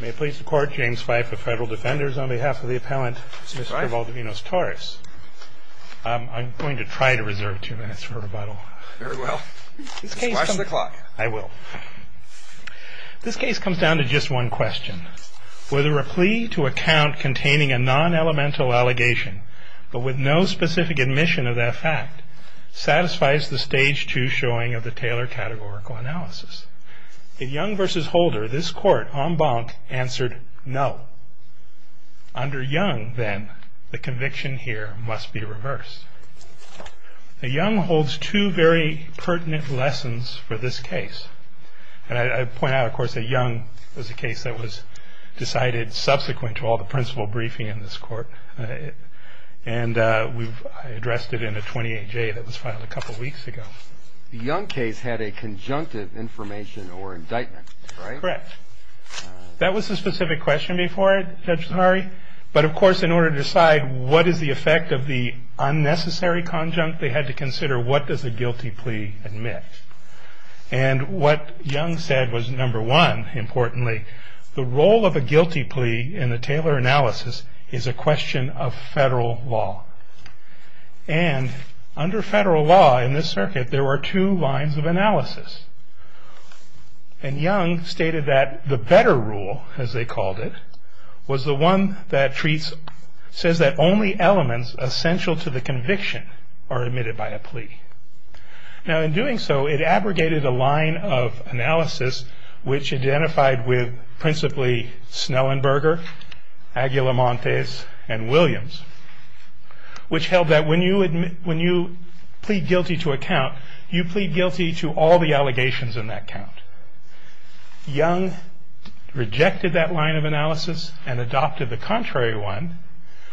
May it please the court, James Fife of Federal Defenders, on behalf of the appellant, Mr. Valdavinos-Torres. I'm going to try to reserve two minutes for rebuttal. Very well. Just watch the clock. I will. This case comes down to just one question. Whether a plea to account containing a non-elemental allegation, but with no specific admission of that fact, satisfies the Stage 2 showing of the Taylor Categorical Analysis. At Young v. Holder, this court, en banc, answered no. Under Young, then, the conviction here must be reversed. Now, Young holds two very pertinent lessons for this case. And I point out, of course, that Young was a case that was decided subsequent to all the principal briefing in this court. And we've addressed it in a 28-J that was filed a couple weeks ago. The Young case had a conjunctive information or indictment, right? Correct. That was the specific question before it, Judge Zaharie. But, of course, in order to decide what is the effect of the unnecessary conjunct, they had to consider what does a guilty plea admit. And what Young said was, number one, importantly, the role of a guilty plea in the Taylor analysis is a question of federal law. And under federal law in this circuit, there were two lines of analysis. And Young stated that the better rule, as they called it, was the one that says that only elements essential to the conviction are admitted by a plea. Now, in doing so, it abrogated a line of analysis, which identified with principally Snellenberger, Aguilamontes, and Williams, which held that when you plead guilty to a count, you plead guilty to all the allegations in that count. Young rejected that line of analysis and adopted the contrary one,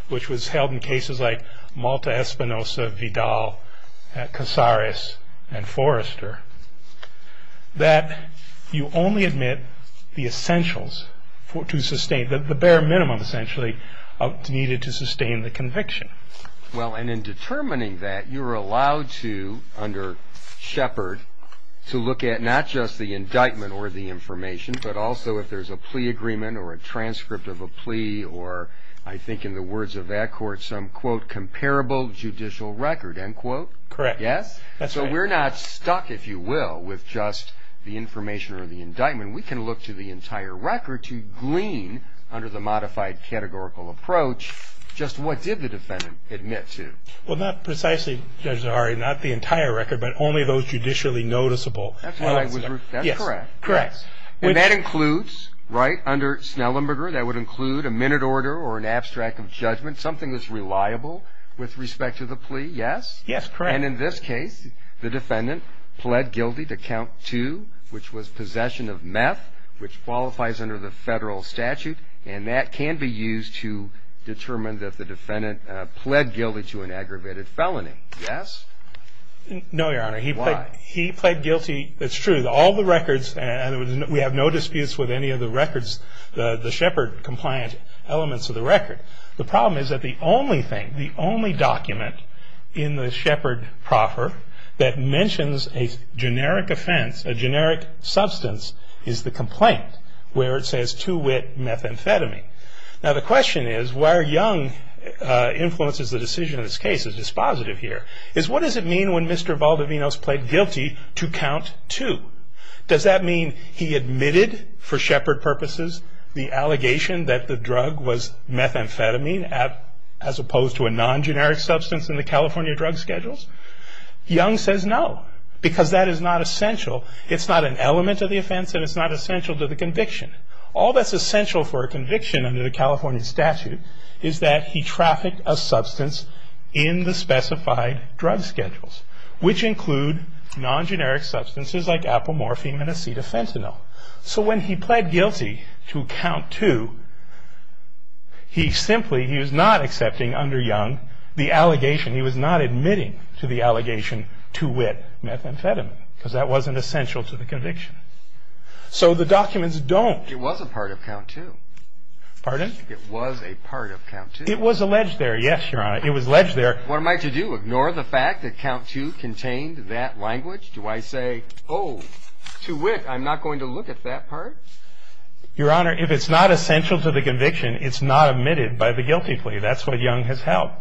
which was held in cases like Malta-Espinosa, Vidal, Casares, and Forrester, that you only admit the essentials to sustain, the bare minimum, essentially, needed to sustain the conviction. Well, and in determining that, you're allowed to, under Shepard, to look at not just the indictment or the information, but also if there's a plea agreement or a transcript of a plea or, I think in the words of that court, some, quote, comparable judicial record, end quote. Correct. Yes? That's right. So we're not stuck, if you will, with just the information or the indictment. We can look to the entire record to glean, under the modified categorical approach, just what did the defendant admit to? Well, not precisely, Judge Zahari, not the entire record, but only those judicially noticeable. That's correct. Yes, correct. And that includes, right, under Snellenberger, that would include a minute order or an abstract of judgment, something that's reliable with respect to the plea, yes? Yes, correct. And in this case, the defendant pled guilty to count two, which was possession of meth, which qualifies under the federal statute, and that can be used to determine that the defendant pled guilty to an aggravated felony. Yes? No, Your Honor. Why? He pled guilty. It's true. All the records, and we have no disputes with any of the records, the Shepard-compliant elements of the record. The problem is that the only thing, the only document in the Shepard proffer that mentions a generic offense, a generic substance, is the complaint where it says two-wit methamphetamine. Now, the question is, where Young influences the decision in this case is dispositive here, is what does it mean when Mr. Valdivinos pled guilty to count two? Does that mean he admitted for Shepard purposes the allegation that the drug was methamphetamine as opposed to a non-generic substance in the California drug schedules? Young says no, because that is not essential. It's not an element of the offense, and it's not essential to the conviction. All that's essential for a conviction under the California statute is that he trafficked a substance in the specified drug schedules, which include non-generic substances like apomorphine and acetafentanil. So when he pled guilty to count two, he simply, he was not accepting under Young the allegation, he was not admitting to the allegation two-wit methamphetamine, because that wasn't essential to the conviction. So the documents don't... It was a part of count two. Pardon? It was a part of count two. It was alleged there, yes, Your Honor, it was alleged there. What am I to do, ignore the fact that count two contained that language? Do I say, oh, to wit, I'm not going to look at that part? Your Honor, if it's not essential to the conviction, it's not admitted by the guilty plea. That's what Young has held,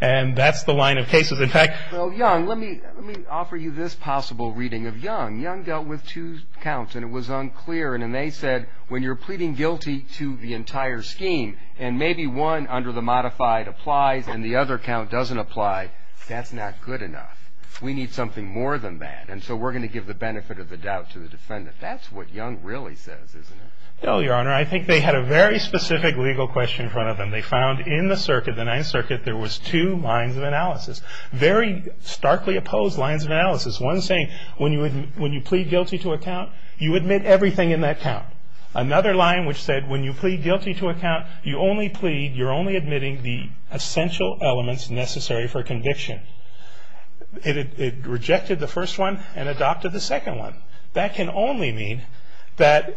and that's the line of cases. In fact... Well, Young, let me offer you this possible reading of Young. Young dealt with two counts, and it was unclear, and they said, when you're pleading guilty to the entire scheme, and maybe one under the modified applies and the other count doesn't apply, that's not good enough. We need something more than that, and so we're going to give the benefit of the doubt to the defendant. That's what Young really says, isn't it? No, Your Honor. I think they had a very specific legal question in front of them. They found in the circuit, the Ninth Circuit, there was two lines of analysis, very starkly opposed lines of analysis. One saying, when you plead guilty to a count, you admit everything in that count. Another line which said, when you plead guilty to a count, you only plead, you're only admitting the essential elements necessary for conviction. It rejected the first one and adopted the second one. That can only mean that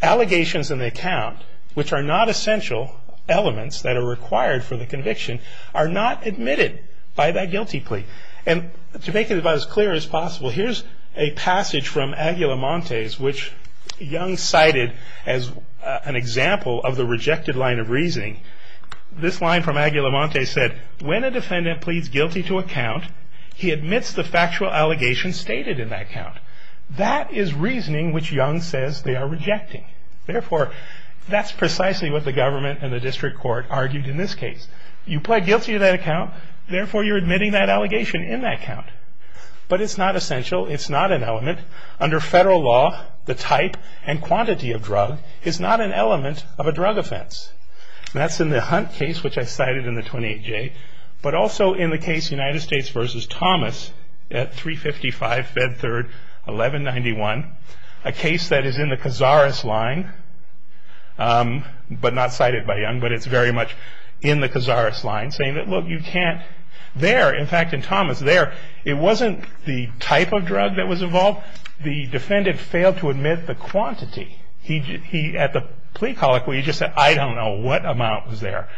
allegations in the account, which are not essential elements that are required for the conviction, are not admitted by that guilty plea. And to make it about as clear as possible, here's a passage from Aguilamonte's, which Young cited as an example of the rejected line of reasoning. This line from Aguilamonte said, when a defendant pleads guilty to a count, he admits the factual allegations stated in that count. That is reasoning which Young says they are rejecting. Therefore, that's precisely what the government and the district court argued in this case. You plead guilty to that account, therefore you're admitting that allegation in that count. But it's not essential, it's not an element. Under federal law, the type and quantity of drug is not an element of a drug offense. That's in the Hunt case, which I cited in the 28J, but also in the case United States v. Thomas at 355 Bedford 1191, a case that is in the Cazares line, but not cited by Young, but it's very much in the Cazares line, saying that, look, you can't, there, in fact, in Thomas, there, it wasn't the type of drug that was involved, the defendant failed to admit the quantity. At the plea colloquy, he just said, I don't know what amount was there.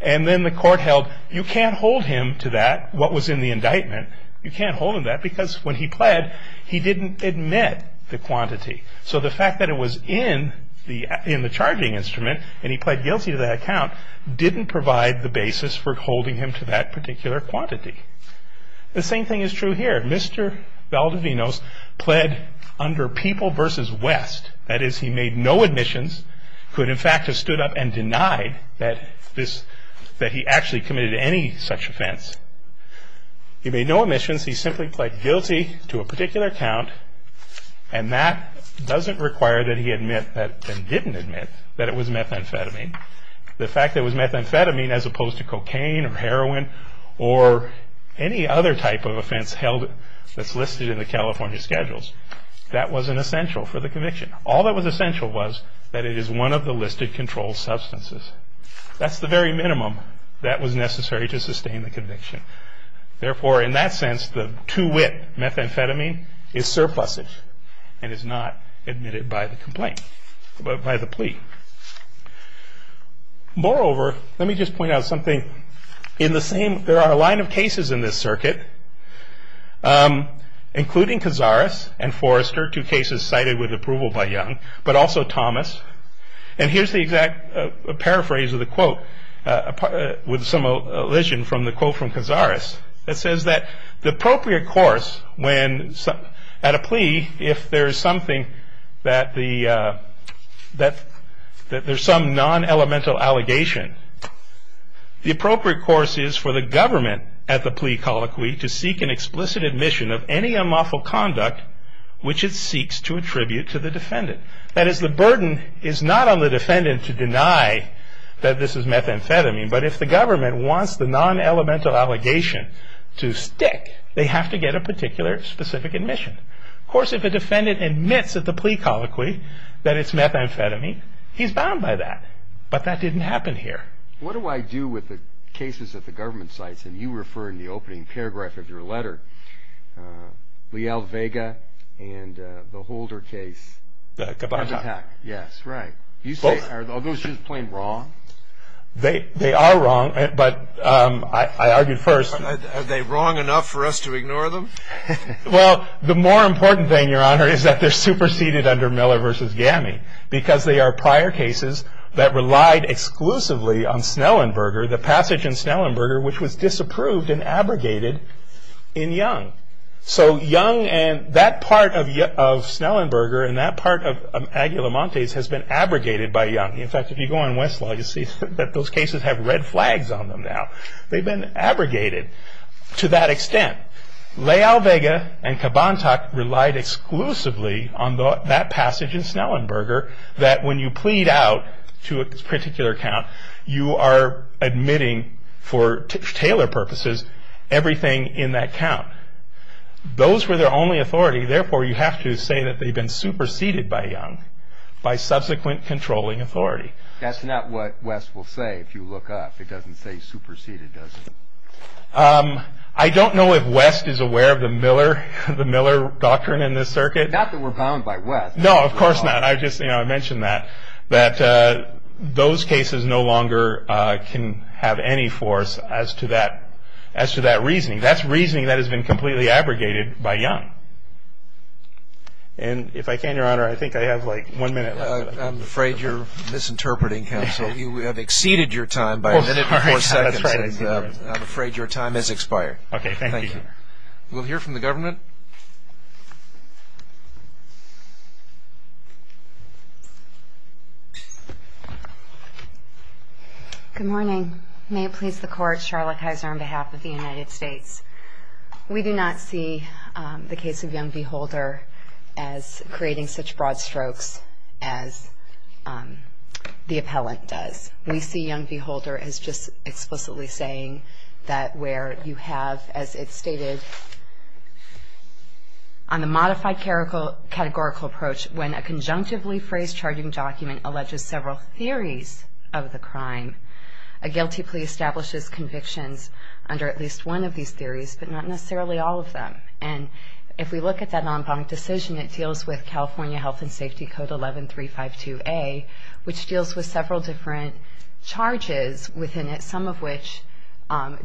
And then the court held, you can't hold him to that, what was in the indictment, you can't hold him to that because when he pled, he didn't admit the quantity. So the fact that it was in the charging instrument, and he pled guilty to that account, didn't provide the basis for holding him to that particular quantity. The same thing is true here. Mr. Valdivinos pled under People v. West, that is, he made no admissions, could, in fact, have stood up and denied that he actually committed any such offense. He made no admissions, he simply pled guilty to a particular account, and that doesn't require that he admit, and didn't admit, that it was methamphetamine. The fact that it was methamphetamine as opposed to cocaine or heroin or any other type of offense held that's listed in the California schedules, that wasn't essential for the conviction. All that was essential was that it is one of the listed controlled substances. That's the very minimum that was necessary to sustain the conviction. Therefore, in that sense, the two-wit methamphetamine is surplusage Moreover, let me just point out something. In the same, there are a line of cases in this circuit, including Cazares and Forrester, two cases cited with approval by Young, but also Thomas, and here's the exact paraphrase of the quote, with some elision from the quote from Cazares, that there's some non-elemental allegation. The appropriate course is for the government at the plea colloquy to seek an explicit admission of any unlawful conduct which it seeks to attribute to the defendant. That is, the burden is not on the defendant to deny that this is methamphetamine, but if the government wants the non-elemental allegation to stick, they have to get a particular specific admission. Of course, if a defendant admits at the plea colloquy that it's methamphetamine, he's bound by that, but that didn't happen here. What do I do with the cases at the government sites, and you refer in the opening paragraph of your letter, Leal-Vega and the Holder case? The Gabon attack. Yes, right. You say, are those just plain wrong? They are wrong, but I argued first. Are they wrong enough for us to ignore them? Well, the more important thing, Your Honor, is that they're superseded under Miller v. Gammy because they are prior cases that relied exclusively on Snellenberger, the passage in Snellenberger which was disapproved and abrogated in Young. So Young and that part of Snellenberger and that part of Aguilamontes has been abrogated by Young. In fact, if you go on Westlaw, you'll see that those cases have red flags on them now. They've been abrogated to that extent. Leal-Vega and Gabon attack relied exclusively on that passage in Snellenberger that when you plead out to a particular count, you are admitting for Taylor purposes everything in that count. Those were their only authority, therefore you have to say that they've been superseded by Young by subsequent controlling authority. That's not what West will say if you look up. It doesn't say superseded, does it? I don't know if West is aware of the Miller doctrine in this circuit. Not that we're bound by West. No, of course not. I just mentioned that. Those cases no longer can have any force as to that reasoning. That's reasoning that has been completely abrogated by Young. And if I can, Your Honor, I think I have like one minute left. I'm afraid you're misinterpreting, counsel. You have exceeded your time by a minute and four seconds. I'm afraid your time has expired. Okay, thank you. We'll hear from the government. Good morning. May it please the Court, Charlotte Kaiser on behalf of the United States. We do not see the case of Young v. Holder as creating such broad strokes as the appellant does. We see Young v. Holder as just explicitly saying that where you have, as it's stated, on the modified categorical approach when a conjunctively phrased charging document alleges several theories of the crime, a guilty plea establishes convictions under at least one of these theories but not necessarily all of them. And if we look at that en banc decision, it deals with California Health and Safety Code 11352A, which deals with several different charges within it, some of which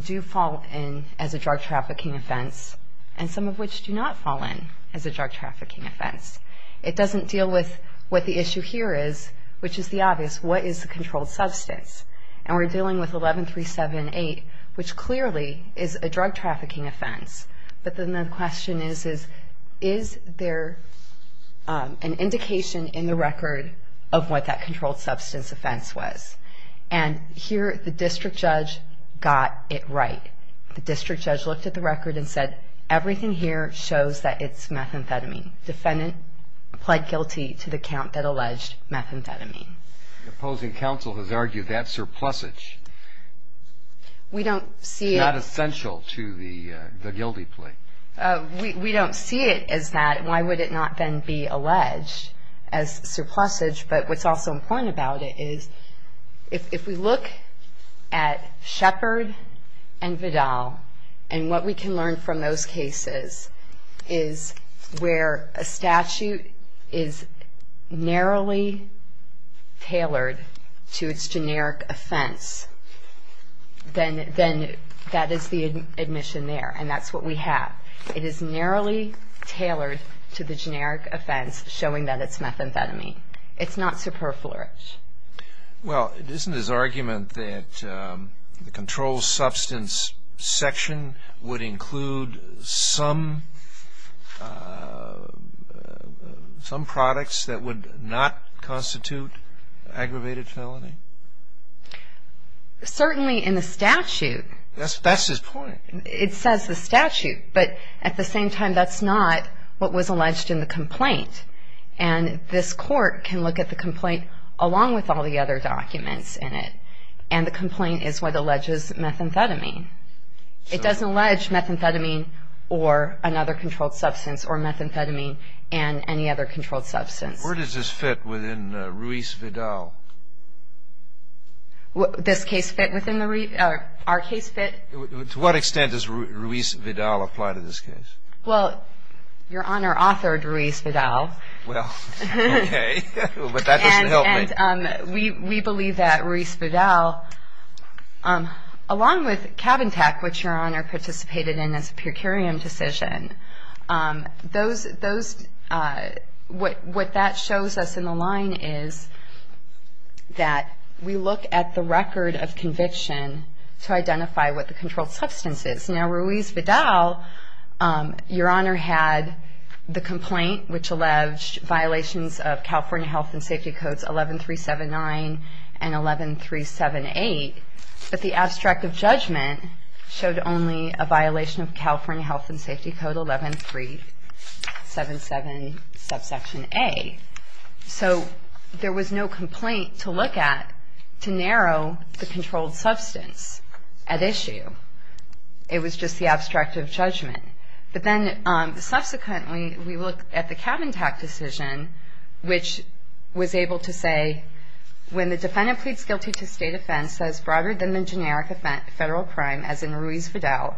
do fall in as a drug trafficking offense and some of which do not fall in as a drug trafficking offense. It doesn't deal with what the issue here is, which is the obvious. What is the controlled substance? And we're dealing with 11378, which clearly is a drug trafficking offense. But then the question is, is there an indication in the record of what that controlled substance offense was? And here the district judge got it right. The district judge looked at the record and said, everything here shows that it's methamphetamine. Defendant pled guilty to the count that alleged methamphetamine. The opposing counsel has argued that surplusage is not essential to the guilty plea. We don't see it as that. Why would it not then be alleged as surplusage? But what's also important about it is if we look at Shepard and Vidal and what we can learn from those cases is where a statute is narrowly tailored to its generic offense, then that is the admission there, and that's what we have. It is narrowly tailored to the generic offense, showing that it's methamphetamine. It's not surplusage. Well, isn't his argument that the controlled substance section would include some products that would not constitute aggravated felony? Certainly in the statute. That's his point. It says the statute, but at the same time that's not what was alleged in the complaint. And this court can look at the complaint along with all the other documents in it, and the complaint is what alleges methamphetamine. It doesn't allege methamphetamine or another controlled substance or methamphetamine and any other controlled substance. Where does this fit within Ruiz-Vidal? This case fit within our case fit? To what extent does Ruiz-Vidal apply to this case? Well, Your Honor authored Ruiz-Vidal. Well, okay, but that doesn't help me. We believe that Ruiz-Vidal, along with Cabin Tech, which Your Honor participated in as a per curiam decision, what that shows us in the line is that we look at the record of conviction to identify what the controlled substance is. Now, Ruiz-Vidal, Your Honor had the complaint, which alleged violations of California Health and Safety Codes 11379 and 11378, but the abstract of judgment showed only a violation of California Health and Safety Code 11377 subsection A. So there was no complaint to look at to narrow the controlled substance at issue. It was just the abstract of judgment. But then, subsequently, we look at the Cabin Tech decision, which was able to say, when the defendant pleads guilty to state offense as broader than the generic federal crime, as in Ruiz-Vidal,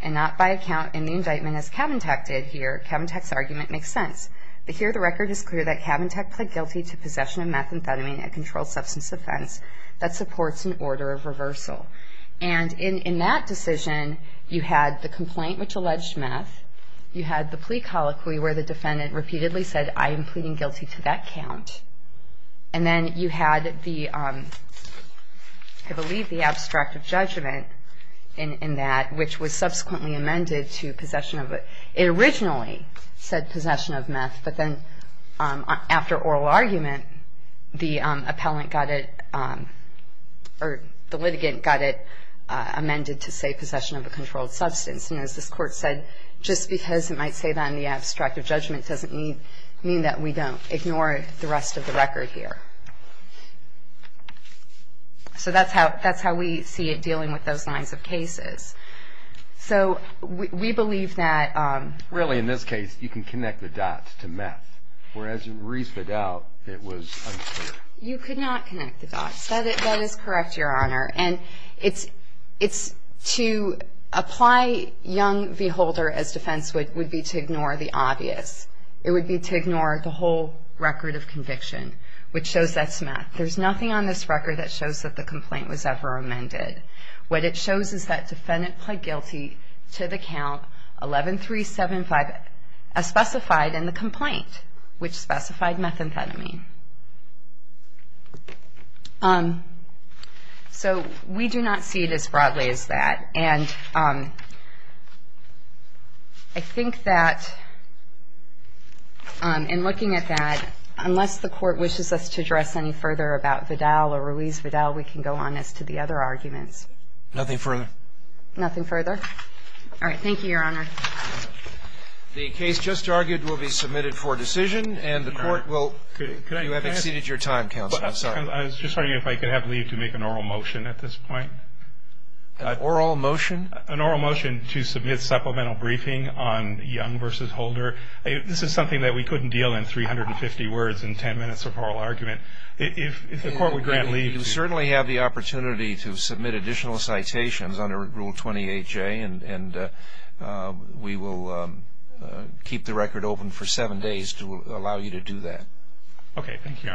and not by account in the indictment as Cabin Tech did here, Cabin Tech's argument makes sense. But here the record is clear that Cabin Tech pled guilty to possession of methamphetamine, a controlled substance offense, that supports an order of reversal. And in that decision, you had the complaint, which alleged meth. You had the plea colloquy, where the defendant repeatedly said, I am pleading guilty to that count. And then you had the, I believe the abstract of judgment in that, which was subsequently amended to possession of, it originally said possession of meth, but then after oral argument, the appellant got it, or the litigant got it amended to, say, possession of a controlled substance. And as this Court said, just because it might say that in the abstract of judgment doesn't mean that we don't ignore the rest of the record here. So that's how we see it dealing with those lines of cases. So we believe that... Really, in this case, you can connect the dots to meth. Whereas in Reese v. Dowd, it was unclear. You could not connect the dots. That is correct, Your Honor. And to apply Young v. Holder as defense would be to ignore the obvious. It would be to ignore the whole record of conviction, which shows that's meth. There's nothing on this record that shows that the complaint was ever amended. What it shows is that defendant pled guilty to the count 11-375, as specified in the complaint, which specified methamphetamine. So we do not see it as broadly as that. And I think that in looking at that, unless the Court wishes us to address any further about Vidal or Ruiz Vidal, we can go on as to the other arguments. Nothing further. Nothing further. All right. Thank you, Your Honor. The case just argued will be submitted for decision. And the Court will... Could I ask... You have exceeded your time, Counsel. I'm sorry. I was just wondering if I could have leave to make an oral motion at this point. An oral motion? An oral motion to submit supplemental briefing on Young v. Holder. This is something that we couldn't deal in 350 words in 10 minutes of oral argument. If the Court would grant leave to... And we will keep the record open for seven days to allow you to do that. Okay. Thank you, Your Honor.